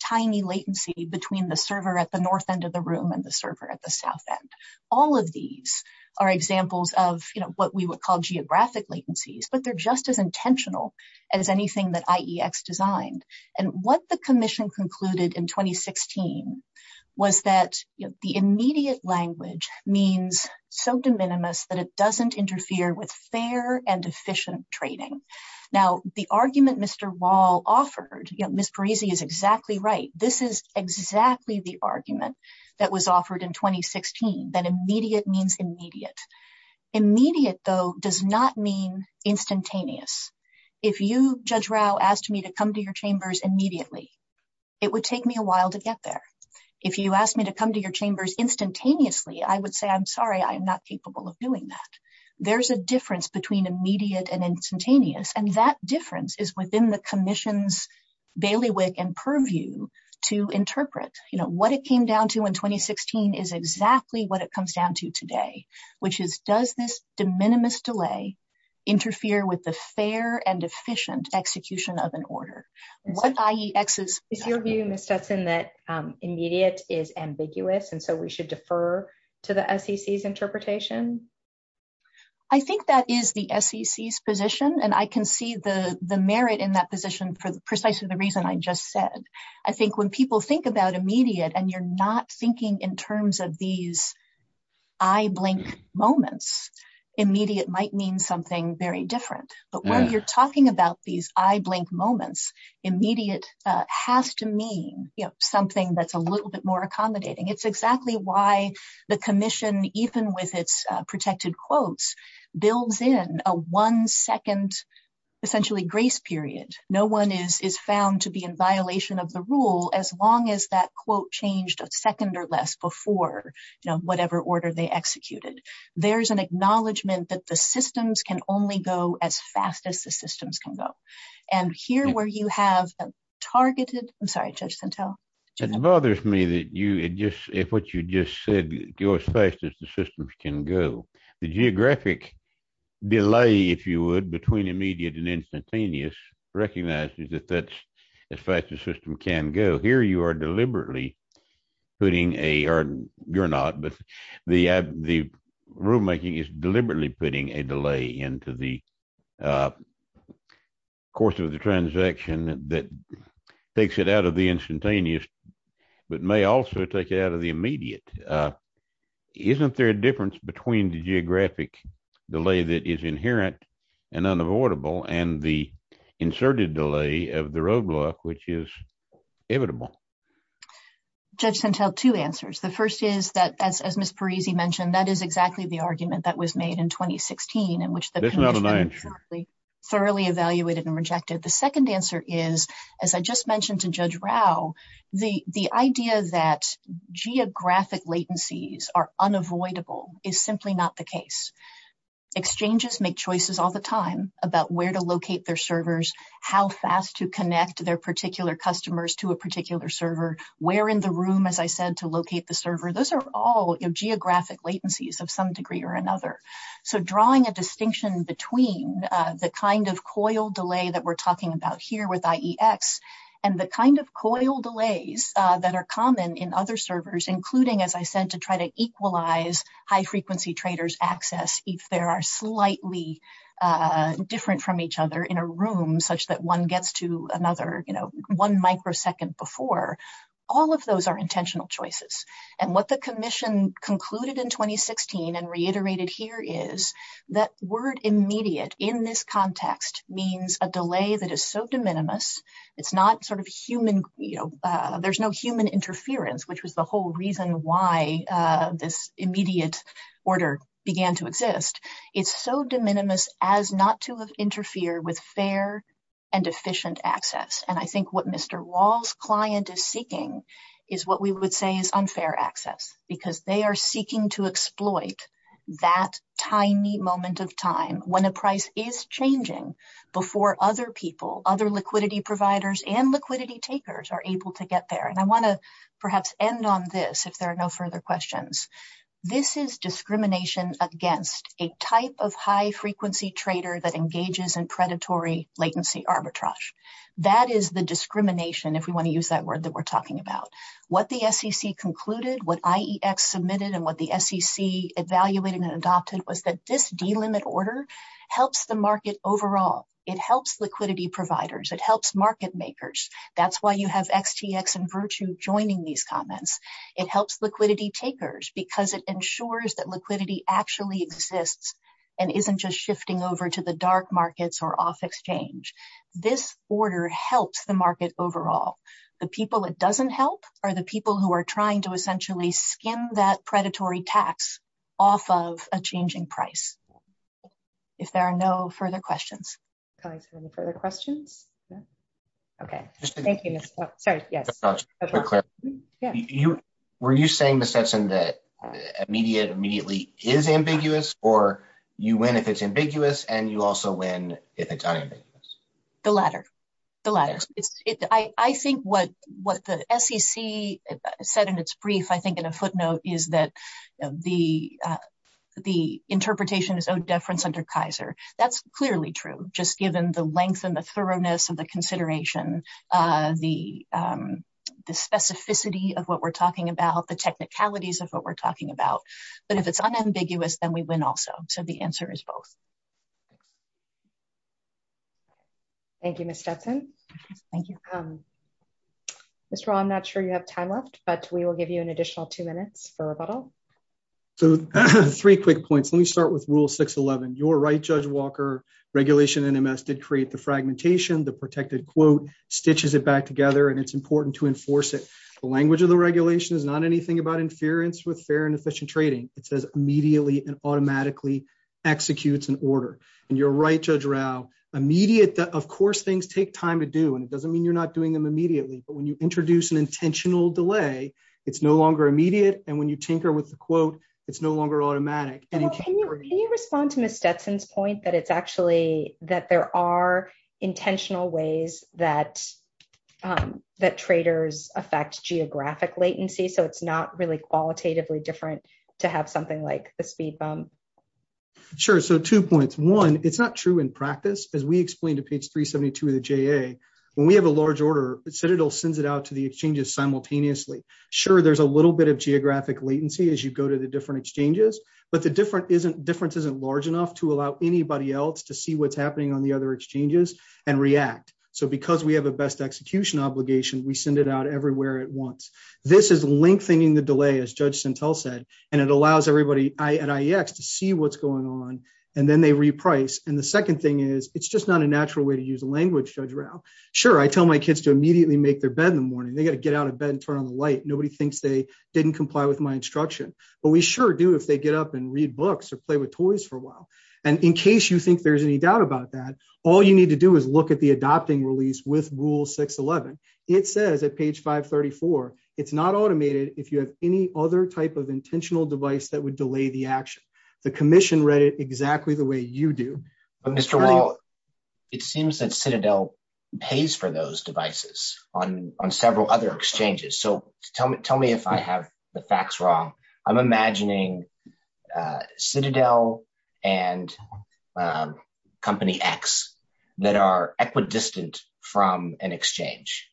tiny latency between the server at the north end of the room and the server at the south end. All of these are examples of what we would call geographic latencies, but they're just as intentional as anything that IEX designed. And what the commission concluded in 2016 was that the immediate language means so de minimis that it doesn't interfere with fair and efficient trading. Now, the argument Mr. Wall offered, you know, Ms. Parisi is exactly right. This is exactly the argument that was offered in 2016, that immediate means immediate. Immediate, though, does not mean instantaneous. If you, Judge Rao, asked me to come to your chambers immediately, it would take me a while to get there. If you asked me to come to your chambers instantaneously, I would say, I'm sorry, I'm not capable of doing that. There's a difference between immediate and instantaneous, and that difference is within the commission's bailiwick and purview to interpret. You know, what it came down to in 2016 is exactly what it comes down to today, which is, does this de minimis delay interfere with the fair and efficient execution of an order? Is your view, Ms. Stetson, that immediate is ambiguous, and so we should defer to the SEC's interpretation? I think that is the SEC's position, and I can see the merit in that position for precisely the reason I just said. I think when people think about immediate, and you're not thinking in terms of these eye-blink moments, immediate might mean something very different. But when you're talking about these eye-blink moments, immediate has to mean something that's a little bit more accommodating. It's exactly why the commission, even with its protected quotes, builds in a one-second, essentially, grace period. No one is found to be in violation of the rule as long as that quote changed a second or less before, you know, whatever order they executed. There's an acknowledgment that the systems can only go as fast as the systems can go. And here, where you have a targeted, I'm sorry, Judge Santel. It bothers me that you just, what you just said, go as fast as the systems can go. The geographic delay, if you would, between immediate and instantaneous recognizes that as fast as the system can go. Here, you are deliberately putting a, or you're not, but the rulemaking is deliberately putting a delay into the course of the transaction that takes it out of the instantaneous, but may also take it out of the immediate. Isn't there a difference between the geographic delay that is inherent and unavoidable and the roadblock which is inevitable? Judge Santel, two answers. The first is that, as Ms. Parisi mentioned, that is exactly the argument that was made in 2016 in which the commission thoroughly evaluated and rejected. The second answer is, as I just mentioned to Judge Rao, the idea that geographic latencies are unavoidable is simply not the case. Exchanges make choices all the time about where to locate their servers, how fast to connect their particular customers to a particular server, where in the room, as I said, to locate the server. Those are all geographic latencies of some degree or another. So drawing a distinction between the kind of coil delay that we're talking about here with IEX and the kind of coil delays that are common in other servers, including, as I said, to try to equalize high-frequency traders' access if they are slightly different from each other in a room such that one gets to another one microsecond before, all of those are intentional choices. What the commission concluded in 2016 and reiterated here is that word immediate in this context means a delay that is so de minimis, it's not sort of you know, there's no human interference, which was the whole reason why this immediate order began to exist. It's so de minimis as not to have interfered with fair and efficient access. And I think what Mr. Rao's client is seeking is what we would say is unfair access, because they are seeking to exploit that tiny moment of time when a price is changing before other people, other liquidity providers, and liquidity takers are able to get there. And I want to perhaps end on this if there are no further questions. This is discrimination against a type of high-frequency trader that engages in predatory latency arbitrage. That is the discrimination, if we want to use that word that we're talking about. What the SEC concluded, what IEX submitted, and what the SEC evaluated and adopted was that this delimit order helps the market overall. It helps liquidity providers. It helps market makers. That's why you have XTX and Virtue joining these comments. It helps liquidity takers because it ensures that liquidity actually exists and isn't just shifting over to the dark markets or off exchange. This order helps the market overall. The people it doesn't help are the people who are trying to Is there any further questions? Were you saying, Ms. Hudson, that immediate immediately is ambiguous or you win if it's ambiguous and you also win if it's not ambiguous? The latter. I think what the SEC said in its brief, I think in a footnote, is that the interpretation is owed deference under Kaiser. That's clearly true, just given the length and the thoroughness of the consideration, the specificity of what we're talking about, the technicalities of what we're talking about. But if it's unambiguous, then we win also. So the answer is both. Thank you, Ms. Hudson. Mr. Hall, I'm not sure you have time left, but we will give you an Your right, Judge Walker. Regulation NMS did create the fragmentation. The protected quote stitches it back together, and it's important to enforce it. The language of the regulation is not anything about interference with fair and efficient trading. It says immediately and automatically executes an order. And you're right, Judge Rao, immediate, of course, things take time to do, and it doesn't mean you're not doing them immediately. But when you introduce an intentional delay, it's no longer immediate. And when you tinker with the quote, it's no longer automatic. Can you respond to Ms. Stetson's point that it's actually that there are intentional ways that traders affect geographic latency, so it's not really qualitatively different to have something like a speed bump? Sure. So two points. One, it's not true in practice. As we explained to page 372 of the JA, when we have a large order, Citadel sends it out to the exchanges simultaneously. Sure, there's a little bit of geographic latency as you go to the different exchanges, but the difference isn't large enough to allow anybody else to see what's happening on the other exchanges and react. So because we have a best execution obligation, we send it out everywhere at once. This is lengthening the delay, as Judge Sentel said, and it allows everybody at IEX to see what's going on, and then they reprice. And the second thing is, it's just not a natural way to use language, Judge Rao. Sure, I tell my kids to immediately make their bed in the morning. They got to get out of bed and turn on the light. Nobody thinks they didn't comply with my instruction. But we sure do if they get up and read books or play with toys for a while. And in case you think there's any doubt about that, all you need to do is look at the adopting release with rule 611. It says at page 534, it's not automated if you have any other type of intentional device that would delay the action. The commission read it exactly the way you do. But Mr. Wall, it seems that Citadel pays for those devices on several other exchanges. So tell me if I have the facts wrong. I'm imagining Citadel and Company X that are equidistant from an exchange.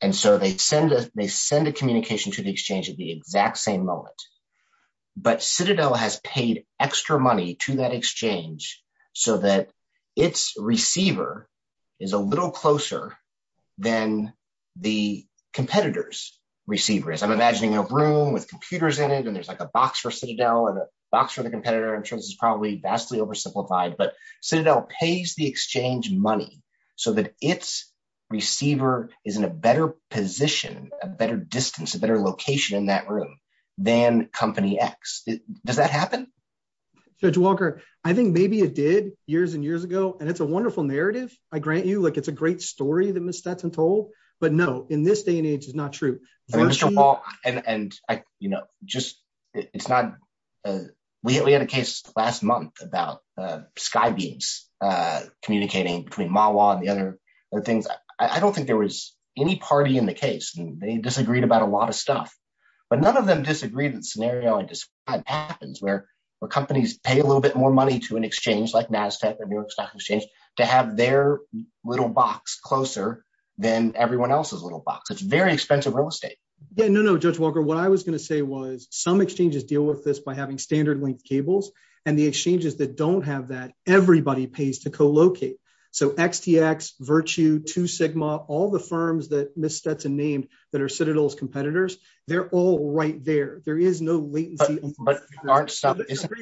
And so they send a communication to the exchange at the exact same moment. But Citadel has paid extra money to that exchange so that its receiver is a little closer than the competitor's receiver is. I'm imagining a room with computers in it, and there's like a box for Citadel and a box for the competitor. I'm sure this is probably vastly oversimplified, but Citadel pays the exchange money so that its receiver is in a better position, a better distance, a better location in that room than Company X. Does that happen? Judge Walker, I think maybe it did years and years ago. And it's a wonderful narrative, I grant you. It's a great story that Ms. Stetson told. But no, in this day and age, it's not true. We had a case last month about SkyBeams communicating between MAWA and the other things. I don't think there was any party in the case. They disagreed about a lot of stuff. But none of them disagreed that the scenario I described happens where companies pay a little more money to an exchange like NASDAQ or New York Stock Exchange to have their little box closer than everyone else's little box. It's very expensive real estate. Yeah, no, no, Judge Walker. What I was going to say was some exchanges deal with this by having standard length cables. And the exchanges that don't have that, everybody pays to co-locate. So XTX, Virtue, Two Sigma, all the firms that Ms. Stetson named that are Citadel's competitors, they're all right there. There is no latency. But aren't some...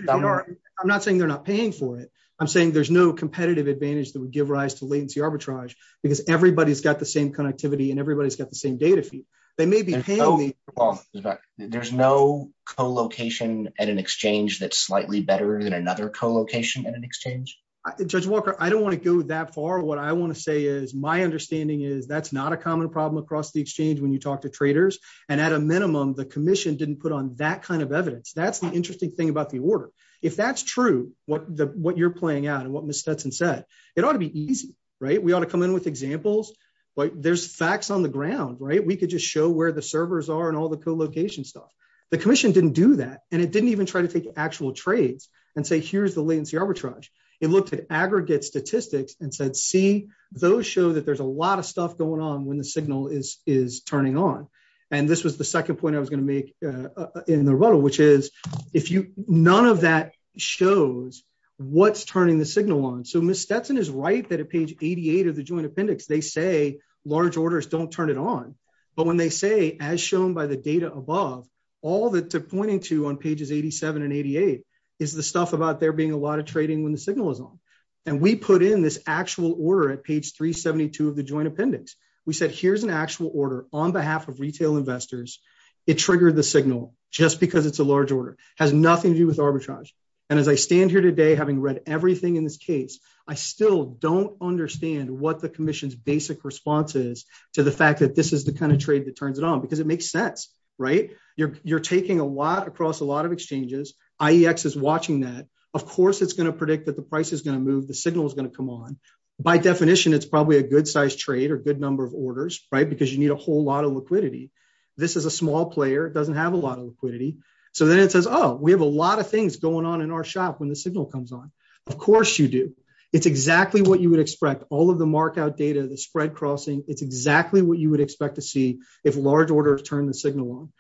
I'm not saying they're not paying for it. I'm saying there's no competitive advantage that would give rise to latency arbitrage because everybody's got the same connectivity and everybody's got the same data fee. They may be paying me... There's no co-location at an exchange that's slightly better than another co-location at an exchange? Judge Walker, I don't want to go that far. What I want to say is my understanding is that's not a common problem across the exchange when you talk to traders. And at a minimum, the commission didn't put on that kind of evidence. That's the interesting thing about the order. If that's true, what you're playing out and what Ms. Stetson said, it ought to be easy. We ought to come in with examples. There's facts on the ground. We could just show where the servers are and all the co-location stuff. The commission didn't do that. And it didn't even try to take actual trades and say, here's the latency arbitrage. It looked at aggregate statistics and said, see, those show that there's a lot of stuff going on when the signal is turning on. And this was the second point I was going to make in the rubble, which is none of that shows what's turning the signal on. So Ms. Stetson is right that at page 88 of the joint appendix, they say large orders don't turn it on. But when they say, as shown by the data above, all that they're pointing to on pages 87 and 88 is the stuff about there being a lot of trading when the signal is on. And we put in this actual order at page 372 of the joint appendix. We said, here's an actual order on behalf of retail investors. It triggered the signal just because it's a large order. Has nothing to do with arbitrage. And as I stand here today, having read everything in this case, I still don't understand what the commission's basic response is to the fact that this is the kind of trade that turns it on. Because it makes sense. You're taking a lot across a lot of exchanges. IEX is watching that. Of course, it's going to predict that the price is going to move. The signal is going to come on. By definition, it's probably a good size trade or good number of orders, right? Because you need a whole lot of liquidity. This is a small player. It doesn't have a lot of liquidity. So then it says, oh, we have a lot of things going on in our shop when the signal comes on. Of course you do. It's exactly what you would expect. All of the markout data, the spread crossing, it's exactly what you would expect to see if large orders turn the signal on.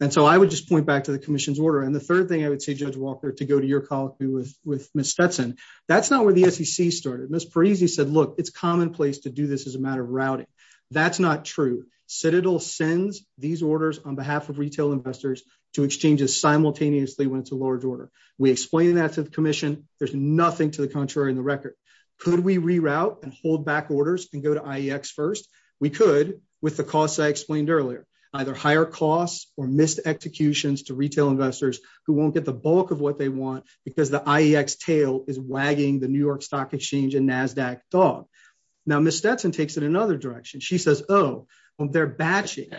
And so I would just point back to the commission's order. And the third thing I would say, Judge Walker, to go to your colleague with Ms. Stetson, that's not where the SEC started. Ms. Parisi said, look, it's commonplace to do this as a matter of routing. That's not true. Citadel sends these orders on behalf of retail investors to exchanges simultaneously when it's a large order. We explained that to the commission. There's nothing to the contrary in the record. Could we reroute and hold back orders and go to IEX first? We could with the costs I explained earlier, either higher costs or missed executions to retail investors who won't get the bulk of what they want because the IEX tail is wagging the New York Stock Exchange and NASDAQ dog. Now, Ms. Stetson takes it in another direction. She says, oh, well, they're batching,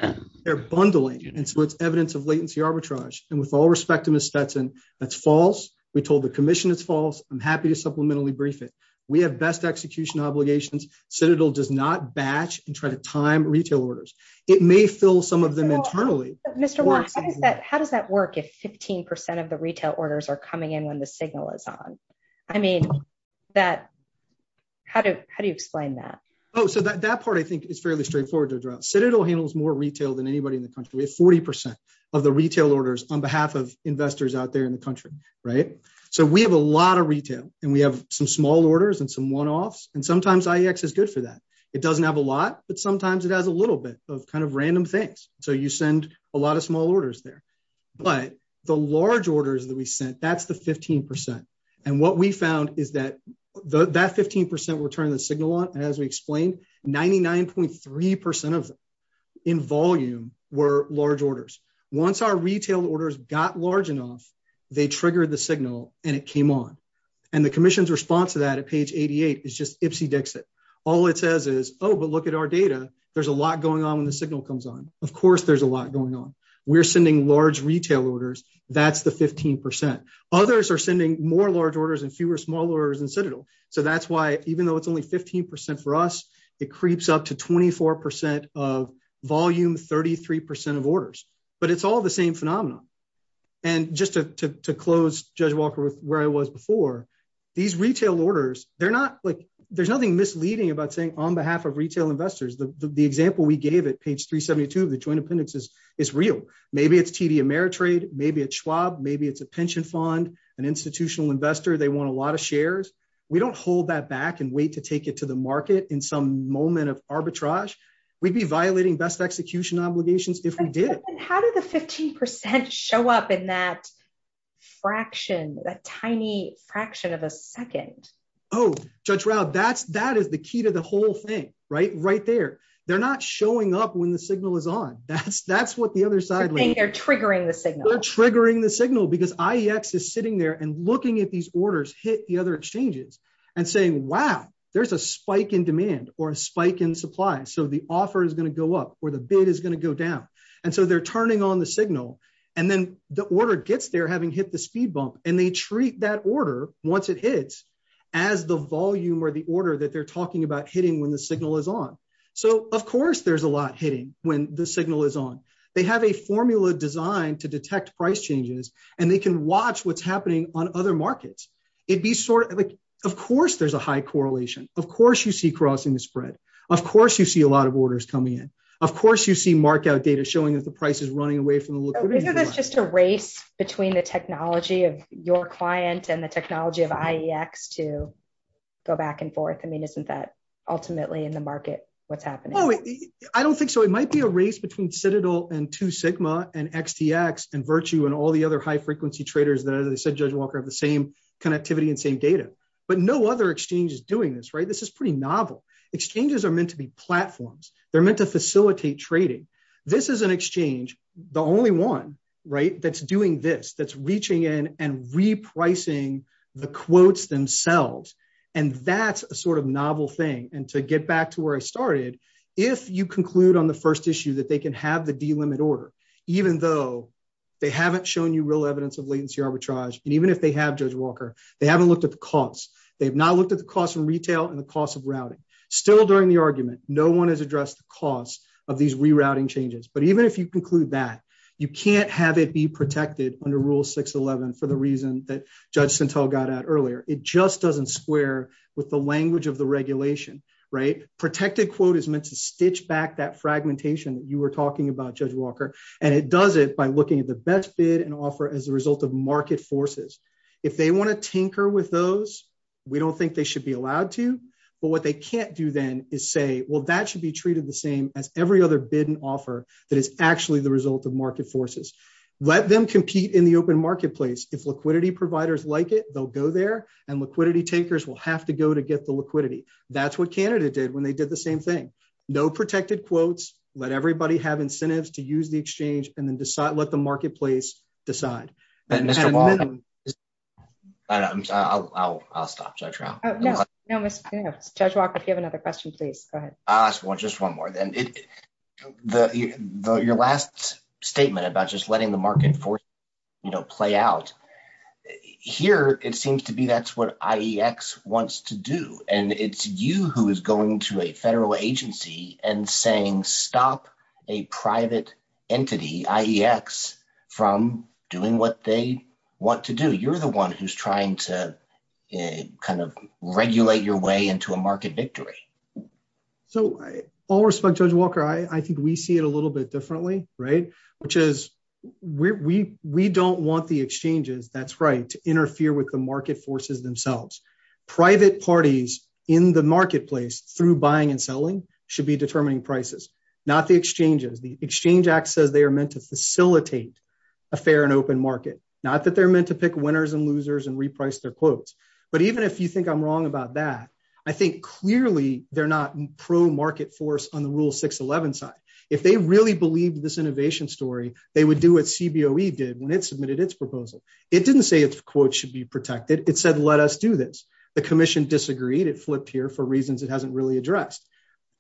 they're bundling. And so it's evidence of latency arbitrage. And with all respect to Ms. Stetson, that's false. We told the commission it's false. I'm happy to supplementally brief it. We have best execution obligations. Citadel does not that work if 15 percent of the retail orders are coming in when the signal is on? I mean, how do you explain that? Oh, so that part, I think, is fairly straightforward to address. Citadel handles more retail than anybody in the country. We have 40 percent of the retail orders on behalf of investors out there in the country. Right. So we have a lot of retail and we have some small orders and some one offs. And sometimes IEX is good for that. It doesn't have a lot, but sometimes it has a little bit of kind of random things. So you send a lot of small orders there. But the large orders that we sent, that's the 15 percent. And what we found is that that 15 percent were turning the signal on. And as we explained, ninety nine point three percent of them in volume were large orders. Once our retail orders got large enough, they triggered the signal and it came on. And the commission's response to that at page 88 is just Ipsy Dixit. All it says is, oh, but look at our data. There's a lot going on when the signal comes on. Of course, there's a lot going on. We're sending large retail orders. That's the 15 percent. Others are sending more large orders and fewer small orders in Citadel. So that's why even though it's only 15 percent for us, it creeps up to 24 percent of volume, 33 percent of orders. But it's all the same phenomenon. And just to close Judge Walker with where I was before, these retail orders, they're not like there's nothing misleading about saying on behalf of retail investors. The example we gave at page 372 of the joint appendix is is real. Maybe it's TD Ameritrade, maybe it's Schwab, maybe it's a pension fund, an institutional investor. They want a lot of shares. We don't hold that back and wait to take it to the market in some moment of arbitrage. We'd be violating best execution obligations if we did. And how did the 15 percent show up in that fraction, that tiny fraction of a second? Oh, Judge Rao, that's that is the key to the whole thing, right? Right there. They're not showing up when the signal is on. That's that's what the other side, they're triggering the signal, triggering the signal because IEX is sitting there and looking at these orders, hit the other exchanges and saying, wow, there's a spike in demand or a spike in supply. So the offer is going to go up or the bid is going to go down. And so they're turning on the signal and then the order gets there having hit the speed bump. And they treat that order once it hits as the volume or the order that they're talking about hitting when the signal is on. So, of course, there's a lot hitting when the signal is on. They have a formula designed to detect price changes and they can watch what's happening on other markets. It'd be sort of like, of course, there's a high correlation. Of course, you see crossing the spread. Of course, you see a lot of orders coming in. Of course, you see markout data showing that the price is running away from that. It's just a race between the technology of your client and the technology of IEX to go back and forth. I mean, isn't that ultimately in the market what's happening? I don't think so. It might be a race between Citadel and two Sigma and XTX and Virtue and all the other high frequency traders that, as I said, Judge Walker, have the same connectivity and same data. But no other exchange is doing this right. This is pretty novel. Exchanges are meant to be that's doing this, that's reaching in and repricing the quotes themselves. And that's a sort of novel thing. And to get back to where I started, if you conclude on the first issue that they can have the delimit order, even though they haven't shown you real evidence of latency arbitrage, and even if they have, Judge Walker, they haven't looked at the cost. They have not looked at the cost from retail and the cost of routing. Still during the argument, no one has addressed the cost of these rerouting changes. But even if you conclude that, you can't have it be protected under Rule 611 for the reason that Judge Citadel got out earlier. It just doesn't square with the language of the regulation, right? Protected quote is meant to stitch back that fragmentation that you were talking about, Judge Walker. And it does it by looking at the best bid and offer as a result of market forces. If they want to tinker with those, we don't think they should be allowed to. But what they can't do then is say, well, that should be treated the same as every other bid offer that is actually the result of market forces. Let them compete in the open marketplace. If liquidity providers like it, they'll go there, and liquidity takers will have to go to get the liquidity. That's what Canada did when they did the same thing. No protected quotes, let everybody have incentives to use the exchange, and then let the marketplace decide. And Mr. Walker, I'll stop, Judge Rao. No, no, Judge Walker, if you have another question, please, go ahead. I'll ask just one more. Your last statement about just letting the market force play out, here, it seems to be that's what IEX wants to do. And it's you who is going to a federal agency and saying, stop a private entity, IEX, from doing what they want to do. You're the one who's trying to regulate your way into a market victory. So all respect, Judge Walker, I think we see it a little bit differently, which is we don't want the exchanges, that's right, to interfere with the market forces themselves. Private parties in the marketplace through buying and selling should be determining prices, not the exchanges. The Exchange Act says they are meant to facilitate a fair and open market, not that they're meant to pick winners and losers and reprice their quotes. But even if you think I'm wrong about that, I think clearly they're not pro-market force on the Rule 611 side. If they really believed this innovation story, they would do what CBOE did when it submitted its proposal. It didn't say its quote should be protected. It said, let us do this. The commission disagreed. It flipped here for reasons it hasn't really addressed.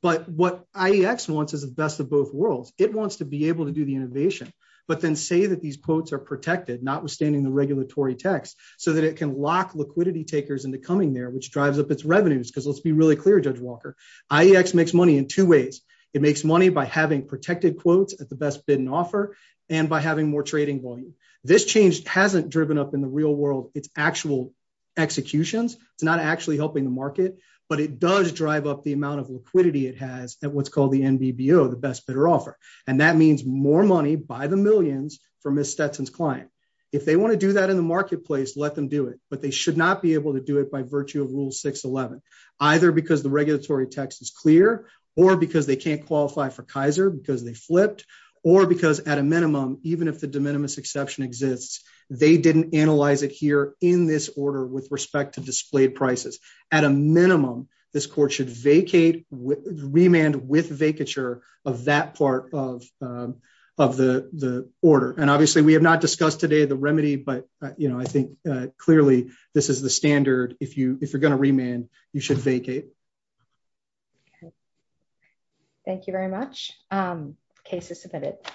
But what IEX wants is the best of both worlds. It wants to be able to do the innovation, but then say that these quotes are protected, notwithstanding the regulatory text, so that it can lock liquidity takers into coming there, which drives up its revenues. Because let's be really clear, Judge Walker, IEX makes money in two ways. It makes money by having protected quotes at the best bid and offer and by having more trading volume. This change hasn't driven up in the real world its actual executions. It's not actually helping the market, but it does drive up the amount of liquidity it has at what's called the NBBO, the best bidder offer. And that means more money by the millions for Ms. Stetson's client. If they want to do that in the marketplace, let them do it. But they should not be able to do it virtue of rule 611, either because the regulatory text is clear or because they can't qualify for Kaiser because they flipped or because at a minimum, even if the de minimis exception exists, they didn't analyze it here in this order with respect to displayed prices. At a minimum, this court should vacate, remand with vacature of that part of the order. And obviously, we have not discussed today the remedy, but I think clearly this is the standard. If you're going to remand, you should vacate. Thank you very much. Case is submitted.